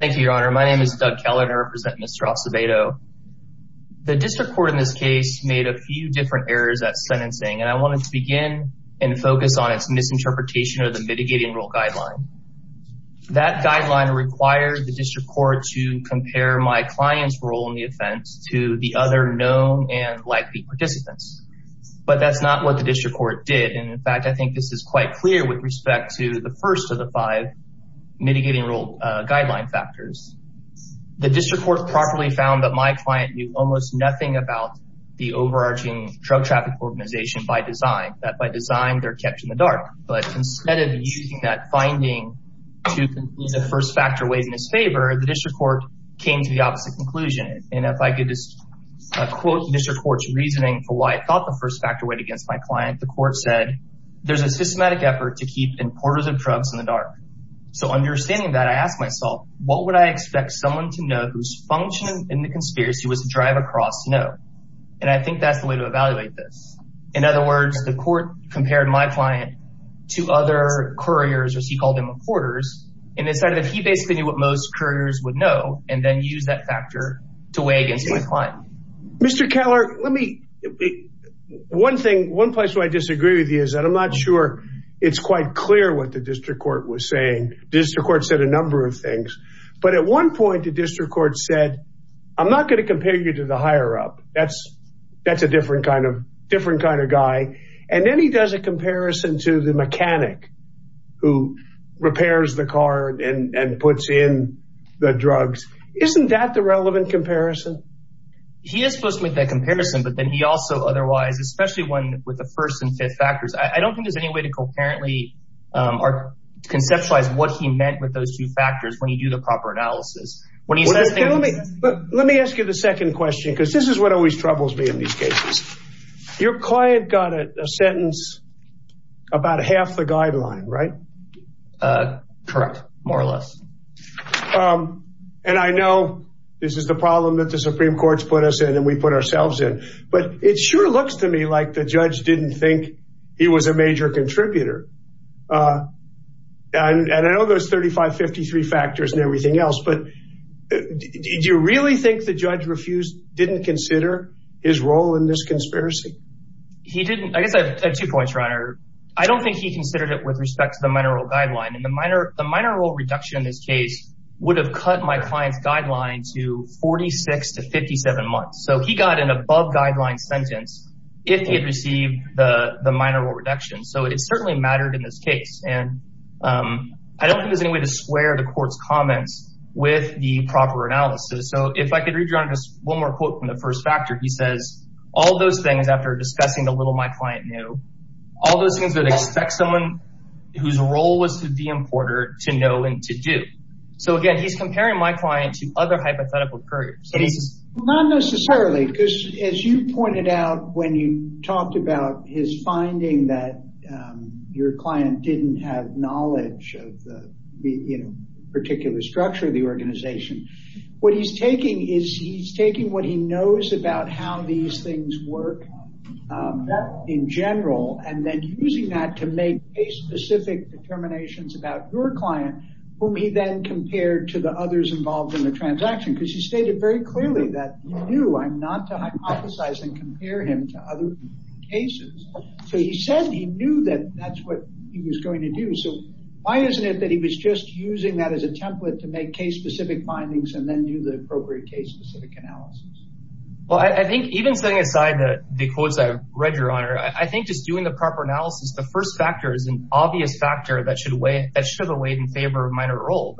Thank you, Your Honor. My name is Doug Keller and I represent Mr. Acevedo. The District Court in this case made a few different errors at sentencing and I wanted to begin and focus on its misinterpretation of the mitigating rule guideline. That guideline required the District Court to compare my client's role in the offense to the other known and likely participants, but that's not what the District Court did. In fact, I think this is quite clear with respect to the first of the five mitigating rule guideline factors. The District Court properly found that my client knew almost nothing about the overarching drug traffic organization by design, that by design they're kept in the dark. But instead of using that finding to conclude the first factor weight in his favor, the District Court came to the opposite conclusion. And if I could just quote District Court's reasoning for why I thought the first factor weight against my client, the court said, there's a systematic effort to keep importers of drugs in the dark. So understanding that, I asked myself, what would I expect someone to know whose function in the conspiracy was to drive across to know? And I think that's the way to evaluate this. In other words, the court compared my client to other couriers, as he called them importers, and decided that he basically knew what most couriers would know and then use that factor to weigh against my client. Mr. Keller, let me, one thing, one place where I disagree with you is that I'm not sure it's quite clear what the District Court was saying. The District Court said a number of things. But at one point, the District Court said, I'm not going to compare you to the higher up. That's a different kind of guy. And then he does a comparison to the mechanic who repairs the car and puts in the He is supposed to make that comparison, but then he also otherwise, especially when with the first and fifth factors, I don't think there's any way to comparatively or conceptualize what he meant with those two factors when you do the proper analysis. Let me ask you the second question, because this is what always troubles me in these cases. Your client got a sentence about half the guideline, right? Correct, more or less. And I know this is the problem that the Supreme Court's put us in and we put ourselves in, but it sure looks to me like the judge didn't think he was a major contributor. And I know there's 35, 53 factors and everything else, but did you really think the judge refused, didn't consider his role in this conspiracy? He didn't. I guess I have two points, Ron. I don't think he considered it with respect to the minor role guideline and the minor role reduction in this case would have cut my client's guideline to 46 to 57 months. So he got an above guideline sentence if he had received the minor role reduction. So it certainly mattered in this case. And I don't think there's any way to square the court's comments with the proper analysis. So if I could read you on just one more quote from the first factor, he says, all those things after discussing the little my whose role was to the importer to know and to do. So again, he's comparing my client to other hypothetical couriers. Not necessarily, because as you pointed out, when you talked about his finding that your client didn't have knowledge of the particular structure of the organization, what he's taking is he's taking what he knows about how these determinations about your client, whom he then compared to the others involved in the transaction, because he stated very clearly that you knew I'm not to hypothesize and compare him to other cases. So he said he knew that that's what he was going to do. So why isn't it that he was just using that as a template to make case specific findings and then do the appropriate case specific analysis? Well, I think even setting aside the quotes, I read your honor, I think just doing the proper analysis, the first factor is an obvious factor that should weigh that should weigh in favor of minor role.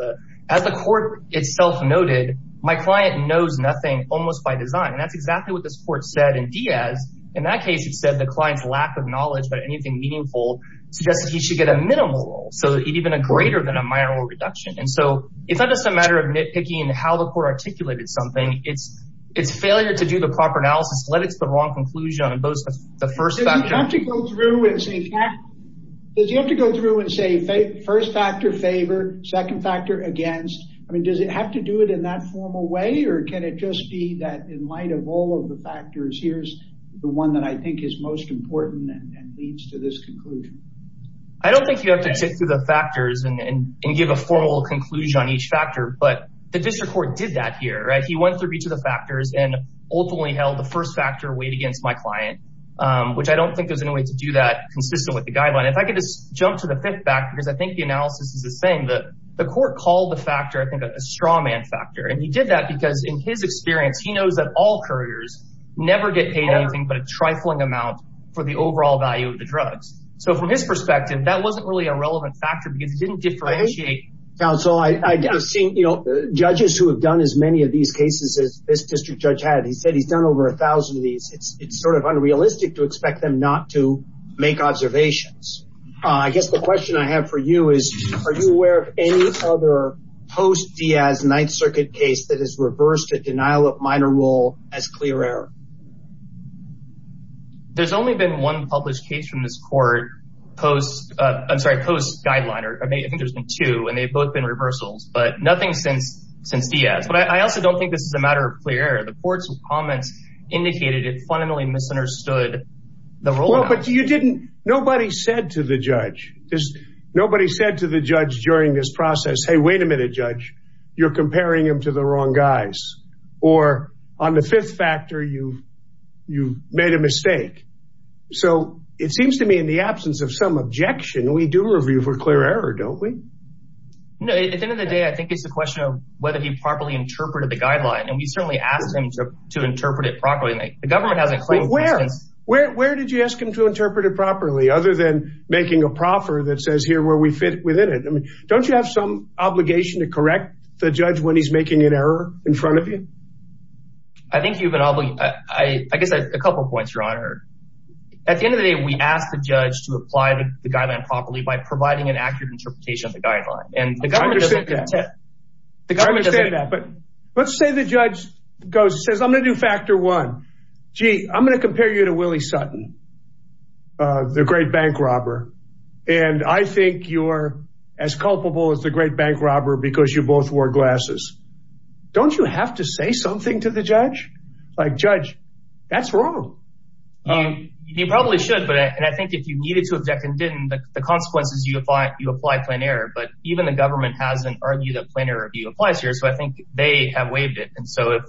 As the court itself noted, my client knows nothing almost by design. And that's exactly what this court said in Diaz. In that case, it said the client's lack of knowledge, but anything meaningful suggests that he should get a minimal role. So even a greater than a minor role reduction. And so it's not just a matter of nitpicking how the court articulated something. It's it's failure to do the proper analysis, let it's the wrong conclusion on both the first factor. Does he have to go through and say first factor favor, second factor against? I mean, does it have to do it in that formal way? Or can it just be that in light of all of the factors, here's the one that I think is most important and leads to this conclusion? I don't think you have to tick through the factors and give a formal conclusion on each factor. But the district court did that here, right? He went through each of the factors and ultimately held the first factor weight against my client, which I don't think there's any way to do that consistent with the guideline. If I could just jump to the fifth fact, because I think the analysis is the same that the court called the factor, I think a straw man factor. And he did that because in his experience, he knows that all couriers never get paid anything but a trifling amount for the overall value of the drugs. So from his perspective, that wasn't really a relevant factor because it didn't differentiate. Now, so I've seen, you know, judges who have done as many of these cases as this district judge had, he said he's done over 1000 of these, it's sort of unrealistic to expect them not to make observations. I guess the question I have for you is, are you aware of any other post Diaz Ninth Circuit case that has reversed a denial of minor role as clear error? There's only been one published case from this court, post, I'm sorry, post guideline, or I think there's been two, and they've both been reversals, but nothing since Diaz. But I also don't think this is a matter of clear error. The court's comments indicated it fundamentally misunderstood the role. Well, but you didn't, nobody said to the judge, nobody said to the judge during this process, hey, wait a minute, judge, you're comparing them to the wrong guys. Or on the fifth factor, you've made a mistake. So it seems to me in the absence of some objection, we do review for clear error, don't we? No, at the end of the day, I think it's a question of whether he properly interpreted the guideline. And we certainly asked him to interpret it properly. The government hasn't claimed for instance. Where did you ask him to interpret it properly other than making a proffer that says here where we fit within it? I mean, don't you have some obligation to correct the judge when he's making an error in front of you? I think you've been, I guess a couple of points, Your Honor. At the end of the day, we asked the judge to apply the guideline properly by providing an accurate interpretation of the guideline. And the government doesn't contend. I understand that. But let's say the judge says, I'm going to do factor one. Gee, I'm going to compare you to Willie Sutton, the great bank robber. And I think you're as culpable as the great bank robber because you both wore glasses. Don't you have to say something to the judge? Like, judge, that's wrong. You probably should. But I think if you needed to object and didn't, the consequences, you apply, you apply plain error. But even the government hasn't argued that plain error applies here. So I think they have waived it. And so if,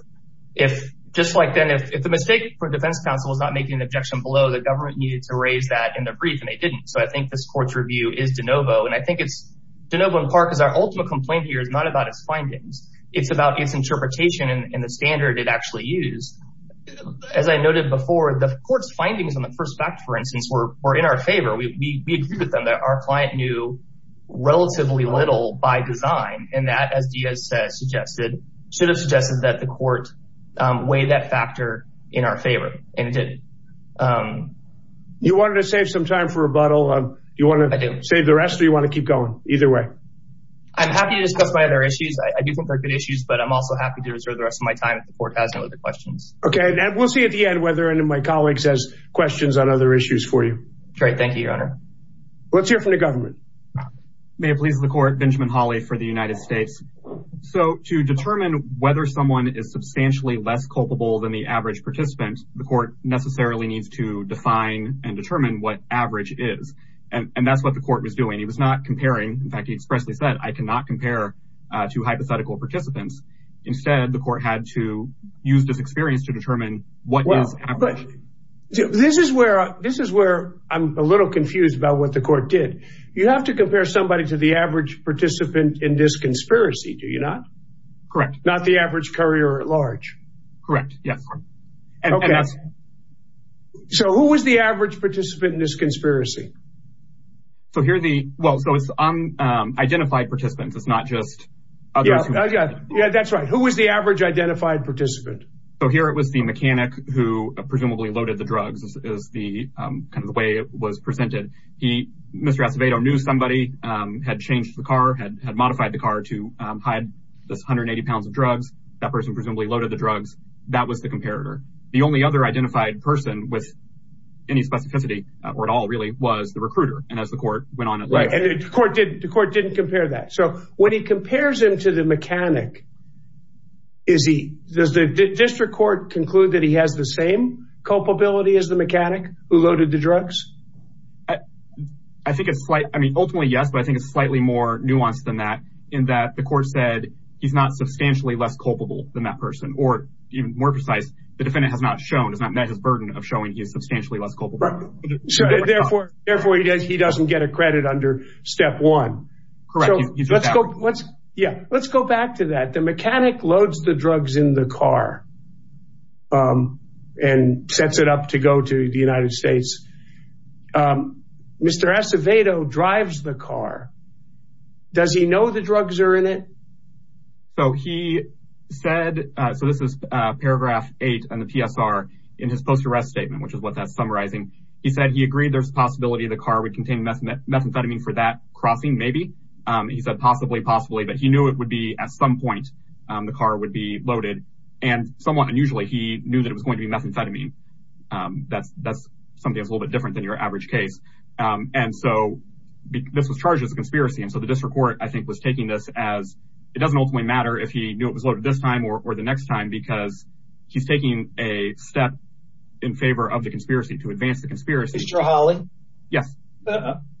if just like then, if the mistake for defense counsel was not making an objection below, the government needed to raise that in the brief, and they didn't. So I think this court's review is de novo. And I think it's de novo in part because our ultimate complaint here is not about its findings. It's about its interpretation and the standard it actually used. As I noted before, the court's findings on the first fact, for instance, were in our favor. We agreed with them that our client knew relatively little by design. And that, as Diaz said, suggested, should have suggested that the court weighed that factor in our favor, and it didn't. You wanted to save some time for rebuttal. Do you want to save the rest or you want to keep going? Either way. I'm happy to discuss my other issues. I do think they're good issues, but I'm also happy to reserve the rest of my time if the court has no other questions. Okay. And we'll see at the end whether any of my colleagues has questions on other issues for you. Great. Thank you, Your Honor. Let's hear from the government. May it please the court, Benjamin Hawley for the United States. So to determine whether someone is substantially less culpable than the average participant, the court necessarily needs to define and determine what average is. And that's what the court was doing. He was not comparing. In fact, he expressly said, I cannot compare to hypothetical participants. Instead, the court had to use this experience to determine what is average. This is where I'm a little confused about what the court did. You have to compare somebody to the average participant in this conspiracy, do you not? Correct. Not the average courier at large. Correct. Yes. So who was the average participant in this conspiracy? So here are the, well, so it's unidentified participants. It's not just others. Yeah, that's right. Who was the average identified participant? So here it was the mechanic who presumably loaded the drugs, is the kind of the way it was presented. He, Mr. Acevedo, knew somebody, had changed the car, had modified the car to hide this 180 pounds of drugs. That person presumably loaded the drugs. That was the comparator. The only other identified person with any specificity or at all really was the recruiter. And as the court went on- Right. And the court didn't compare that. So when he compares him to the mechanic, is he, does the district court conclude that he has the same culpability as the mechanic who loaded the drugs? I think it's slight, I mean, ultimately, yes, but I think it's slightly more nuanced than that, in that the court said he's not substantially less culpable than that person, or even more precise, the defendant has not shown, it's not met his burden of showing he is substantially less culpable. Right. So therefore, therefore, he doesn't get a credit under step one. Correct. Let's go, let's, yeah, let's go back to that. The mechanic loads the drugs in the car, and sets it up to go to the United States. Mr. Acevedo drives the car. Does he know the drugs are in it? So he said, so this is paragraph eight on the PSR, in his post arrest statement, which is what that's summarizing. He said he agreed there's possibility the car would contain methamphetamine for that crossing, maybe. He said possibly, possibly, but he knew it would be at some point, the car would be loaded. And somewhat unusually, he knew that it was going to be methamphetamine. That's something that's a little bit different than your average case. And so this was charged as a conspiracy. And so the district court, I think, was taking this as it doesn't ultimately matter if he knew it was loaded this time or the next time, because he's taking a step in favor of the conspiracy to advance the conspiracy. Mr. Hawley? Yes.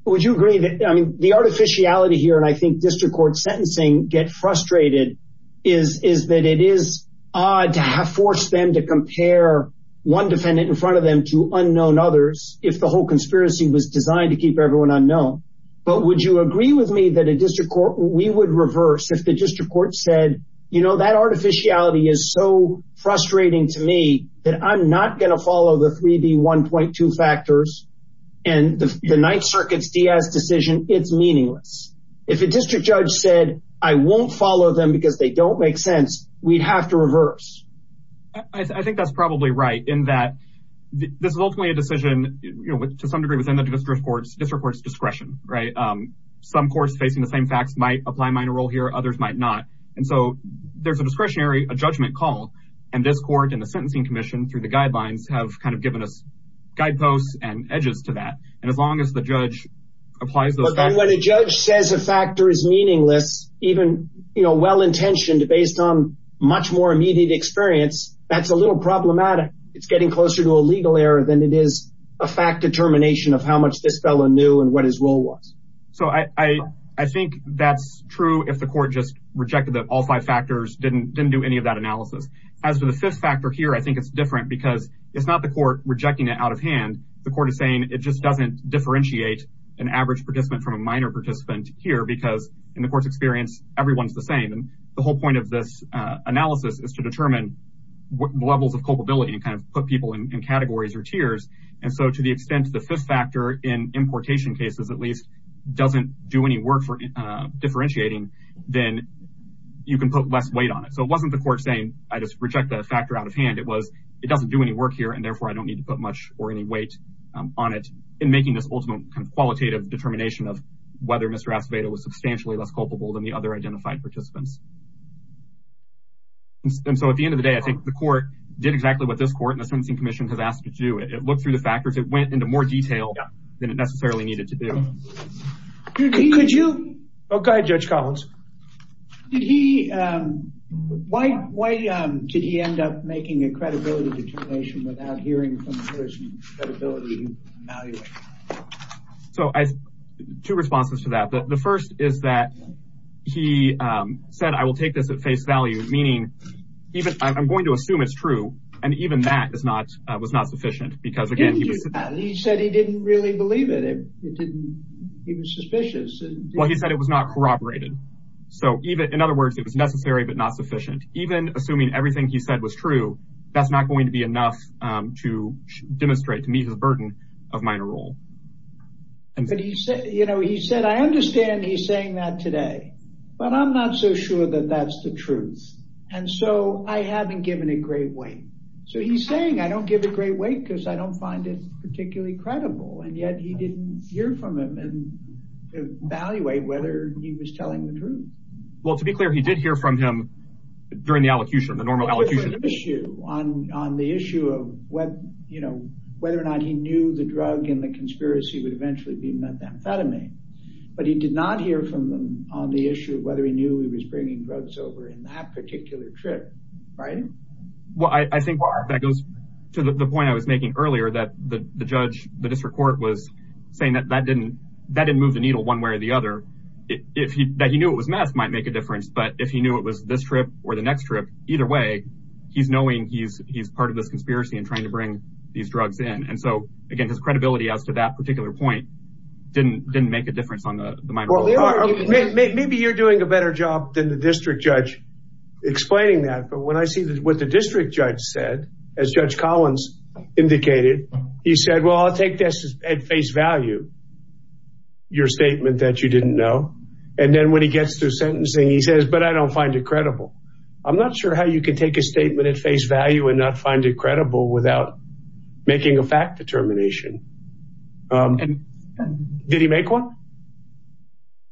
Would you agree that, I mean, the artificiality here, and I think district court sentencing get frustrated, is that it is odd to have forced them to compare one defendant in front of them to unknown others, if the whole conspiracy was designed to keep everyone unknown. But would you agree with me that a district court, we would reverse if the district court said, you know, that artificiality is so frustrating to me that I'm not going to follow the 3B 1.2 factors and the Ninth Circuit's Diaz decision, it's meaningless. If a district judge said, I won't follow them because they don't make sense, we'd have to reverse. I think that's probably right in that this is ultimately a decision to some degree within the district court's discretion, right? Some courts facing the same facts might apply minor role here, others might not. And so there's a discretionary, a judgment call, and this court and the commission, through the guidelines, have kind of given us guideposts and edges to that. And as long as the judge applies those... But then when a judge says a factor is meaningless, even, you know, well-intentioned based on much more immediate experience, that's a little problematic. It's getting closer to a legal error than it is a fact determination of how much this fellow knew and what his role was. So I think that's true if the court just rejected that all five factors didn't do any of that analysis. As for the fifth factor here, I think it's different because it's not the court rejecting it out of hand. The court is saying it just doesn't differentiate an average participant from a minor participant here because in the court's experience, everyone's the same. And the whole point of this analysis is to determine what levels of culpability and kind of put people in categories or tiers. And so to the extent the fifth factor in importation cases at least doesn't do any work for differentiating, then you can put less weight on it. So it wasn't the court saying, I just reject that factor out of hand. It was, it doesn't do any work here and therefore I don't need to put much or any weight on it in making this ultimate kind of qualitative determination of whether Mr. Acevedo was substantially less culpable than the other identified participants. And so at the end of the day, I think the court did exactly what this court and the Sentencing Commission has asked it to do. It looked through the factors, it went into more detail than it necessarily needed to do. Could you... Oh, go ahead, Judge Collins. Did he, why did he end up making a credibility determination without hearing from the jurors the credibility he evaluated? So I, two responses to that. The first is that he said, I will take this at face value, meaning even, I'm going to assume it's true, and even that is not, was not sufficient because again, he said he didn't really believe it. It didn't, he was suspicious. Well, he said it was not corroborated. So even in other words, it was necessary, but not sufficient, even assuming everything he said was true, that's not going to be enough to demonstrate, to meet his burden of minor role. But he said, you know, he said, I understand he's saying that today, but I'm not so sure that that's the truth. And so I haven't given a great weight. So he's saying, I don't give a great weight because I don't find it particularly credible. And yet he didn't hear from him and evaluate whether he was telling the truth. Well, to be clear, he did hear from him during the allocution, the normal allocution. On, on the issue of what, you know, whether or not he knew the drug and the conspiracy would eventually be methamphetamine, but he did not hear from them on the issue of whether he knew he was bringing drugs over in that particular trip. Right. Well, I think that goes to the point I was making earlier that the judge, the district court was saying that that didn't, that didn't move the needle one way or the other. If he, that he knew it was meth might make a difference, but if he knew it was this trip or the next trip, either way, he's knowing he's, he's part of this conspiracy and trying to bring these drugs in. And so, again, his credibility as to that particular point didn't, didn't make a difference on the minor. Maybe you're doing a better job than the district judge explaining that. But when I see what the district judge said, as Judge Collins indicated, he didn't know, and then when he gets through sentencing, he says, but I don't find it credible. I'm not sure how you can take a statement at face value and not find it credible without making a fact determination. And did he make one?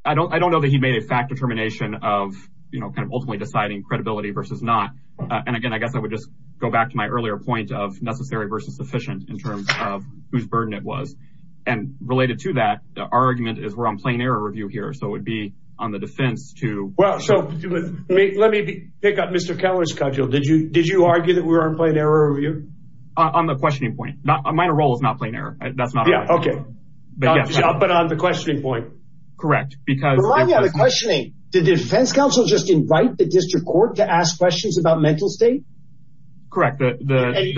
I don't, I don't know that he made a fact determination of, you know, kind of ultimately deciding credibility versus not, and again, I guess I would just go back to my earlier point of necessary versus sufficient in terms of whose burden it was. And related to that, our argument is we're on plain error review here. So it would be on the defense to, well, so let me, let me pick up Mr. Keller's schedule. Did you, did you argue that we were on plain error review? On the questioning point, not a minor role is not plain error. That's not, yeah. Okay. But yeah, but on the questioning point, correct. Because the questioning, the defense counsel just invite the district court to ask questions about mental state. Correct. And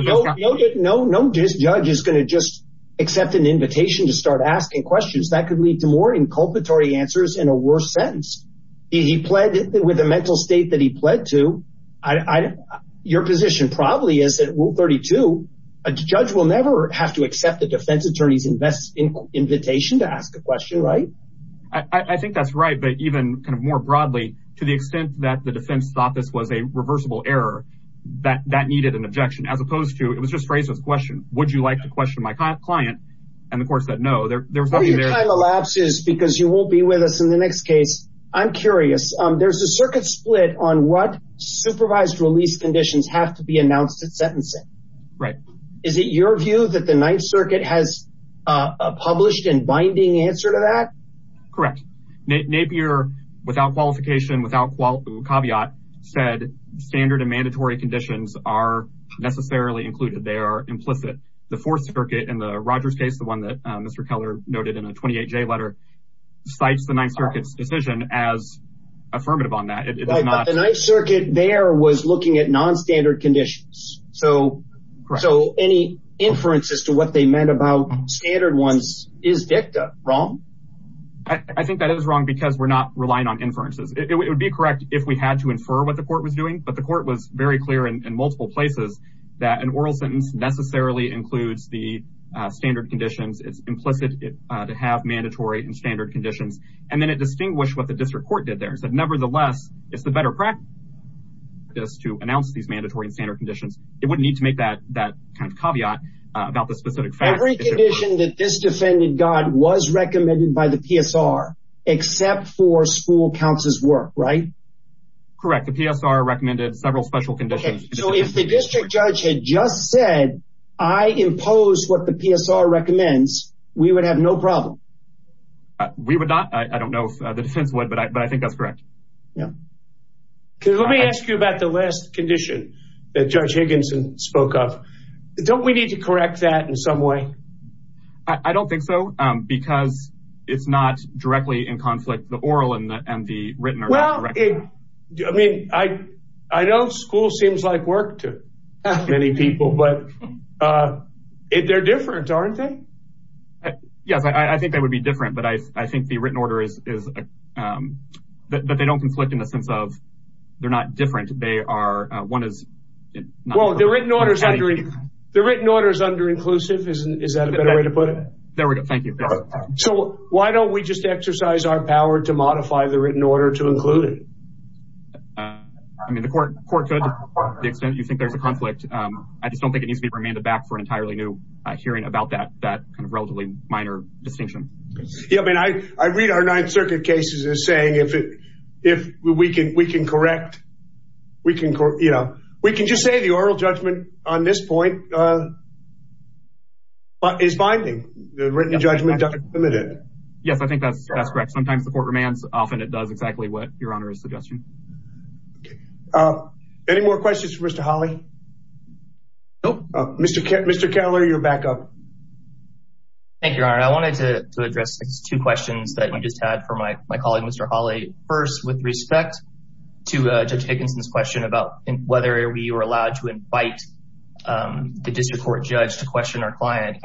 no, no, no, no judge is going to just accept an invitation to start asking questions. That could lead to more inculpatory answers in a worse sentence. He pled with a mental state that he pled to. I, your position probably is that rule 32, a judge will never have to accept the defense attorney's invest, invitation to ask a question, right? I think that's right. But even kind of more broadly, to the extent that the defense thought this was a reversible error, that, that needed an objection as opposed to, it was just raised this question. Would you like to question my client? And the court said, no, there, there was nothing there. Your time elapses because you won't be with us in the next case. I'm curious. There's a circuit split on what supervised release conditions have to be announced at sentencing. Right. Is it your view that the ninth circuit has a published and binding answer to that? Correct. Napier without qualification, without caveat said standard and mandatory conditions are necessarily included. They are implicit. The fourth circuit in the Rogers case, the one that Mr. Keller noted in a 28 J letter, cites the ninth circuit's decision as affirmative on that. It is not. The ninth circuit there was looking at nonstandard conditions. So, so any inferences to what they meant about standard ones is dicta wrong? I think that is wrong because we're not relying on inferences. It would be correct if we had to infer what the court was doing, but the court was very clear in multiple places that an oral sentence necessarily includes the standard conditions. It's implicit to have mandatory and standard conditions. And then it distinguished what the district court did there. It said, nevertheless, it's the better practice to announce these mandatory and standard conditions. It wouldn't need to make that, that kind of caveat about the specific facts. Every condition that this defendant got was recommended by the PSR, except for school counselors work, right? Correct. The PSR recommended several special conditions. So if the district judge had just said, I impose what the PSR recommends, we would have no problem. We would not. I don't know if the defense would, but I think that's correct. Yeah. Okay. Let me ask you about the last condition that Judge Higginson spoke of. Don't we need to correct that in some way? I don't think so, because it's not directly in conflict, the oral and the written order. Well, I mean, I know school seems like work to many people, but they're different, aren't they? Yes. I think they would be different, but I think the written order is, that they don't conflict in the sense of, they're not different. They are, one is... The written order is under inclusive. Is that a better way to put it? There we go. Thank you. So why don't we just exercise our power to modify the written order to include it? I mean, the court could, to the extent you think there's a conflict. I just don't think it needs to be remanded back for an entirely new hearing about that kind of relatively minor distinction. Yeah. I mean, I read our Ninth Circuit cases as saying, if we can correct, we can, you know, we can just say the oral judgment on this point is binding, the written judgment doesn't limit it. Yes. I think that's correct. Sometimes the court remands, often it does exactly what your Honor is suggesting. Okay. Any more questions for Mr. Hawley? Nope. Mr. Keller, you're back up. Thank you, Your Honor. I wanted to address two questions that I just had for my colleague, Mr. Hawley. First, with respect to Judge Higginson's question about whether we were allowed to invite the district court judge to question our client,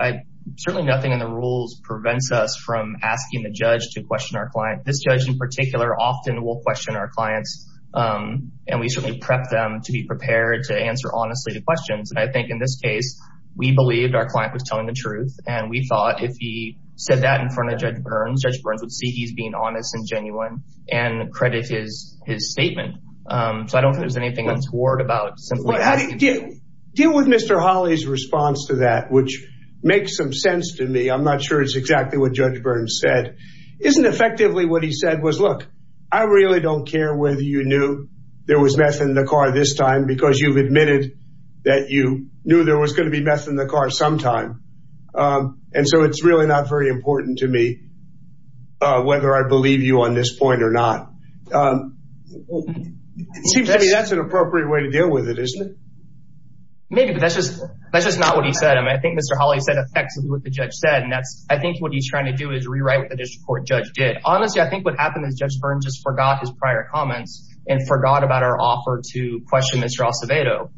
certainly nothing in the rules prevents us from asking the judge to question our client. This judge in particular often will question our clients and we certainly prep them to be prepared to answer honestly to questions and I think in this case, we believed our client was telling the truth and we thought if he said that in front of Judge Burns, Judge Burns would see he's being honest and genuine and credit his statement. So I don't think there's anything untoward about simply asking him to- Deal with Mr. Hawley's response to that, which makes some sense to me. I'm not sure it's exactly what Judge Burns said. Isn't effectively what he said was, look, I really don't care whether you knew there was meth in the car this time because you've admitted that you knew there was going to be meth in the car sometime and so it's really not very important to you on this point or not. It seems to me that's an appropriate way to deal with it, isn't it? Maybe, but that's just not what he said. I mean, I think Mr. Hawley said effectively what the judge said and that's, I think what he's trying to do is rewrite what the district court judge did. Honestly, I think what happened is Judge Burns just forgot his prior comments and forgot about our offer to question Mr. Acevedo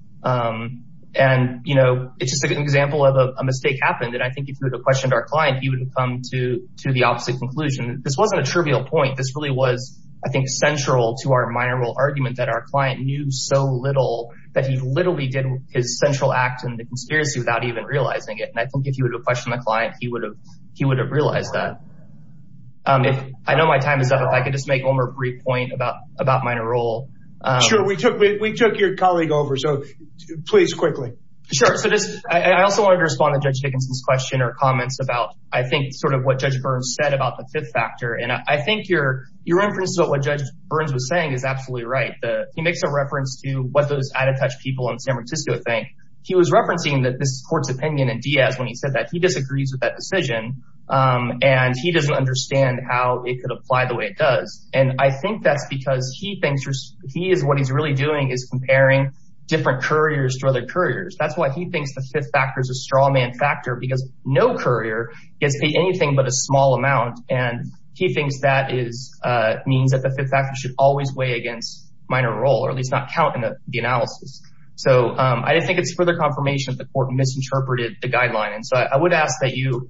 and you know, it's just an example of a mistake happened and I think if you had questioned our client, he would have come to the opposite conclusion. This wasn't a trivial point. This really was, I think, central to our minor role argument that our client knew so little that he literally did his central act in the conspiracy without even realizing it and I think if you would have questioned the client, he would have, he would have realized that. I know my time is up. If I could just make one more brief point about, about minor role. Sure. We took, we took your colleague over. So please quickly. Sure. So this, I also wanted to respond to Judge Dickinson's question or comments about, I think sort of what Judge Burns said about the fifth factor. And I think your, your inferences about what Judge Burns was saying is absolutely right, that he makes a reference to what those out of touch people in San Francisco think he was referencing that this court's opinion and Diaz, when he said that he disagrees with that decision. And he doesn't understand how it could apply the way it does. And I think that's because he thinks he is, what he's really doing is comparing different couriers to other couriers. That's why he thinks the fifth factor is a straw man factor because no courier gets to pay anything but a small amount. And he thinks that is, means that the fifth factor should always weigh against minor role, or at least not count in the analysis. So I didn't think it's further confirmation that the court misinterpreted the guideline. And so I would ask that you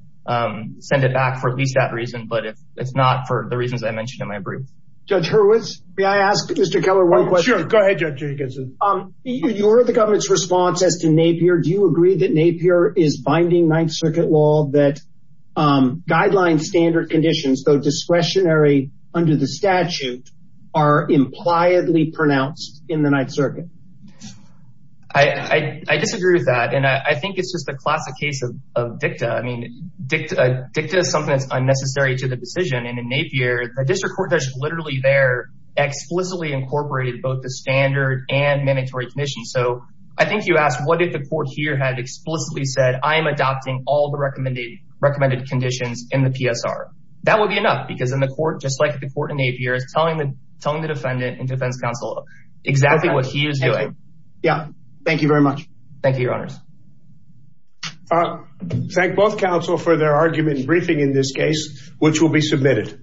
send it back for at least that reason. But if it's not for the reasons I mentioned in my brief. Judge Hurwitz, may I ask Mr. Keller one question? Go ahead, Judge Dickinson. You heard the government's response as to Napier. Do you agree that Napier is binding Ninth Circuit law that guidelines standard conditions, though discretionary under the statute, are impliedly pronounced in the Ninth Circuit? I disagree with that. And I think it's just a classic case of dicta. I mean, dicta is something that's unnecessary to the decision. And in Napier, the district court that's literally there explicitly incorporated both the standard and mandatory conditions. So I think you asked, what if the court here had explicitly said, I am adopting all the recommended conditions in the PSR? That would be enough because in the court, just like the court in Napier is telling the defendant and defense counsel exactly what he is doing. Yeah. Thank you very much. Thank you, Your Honors. Thank both counsel for their argument and briefing in this case, which will be submitted.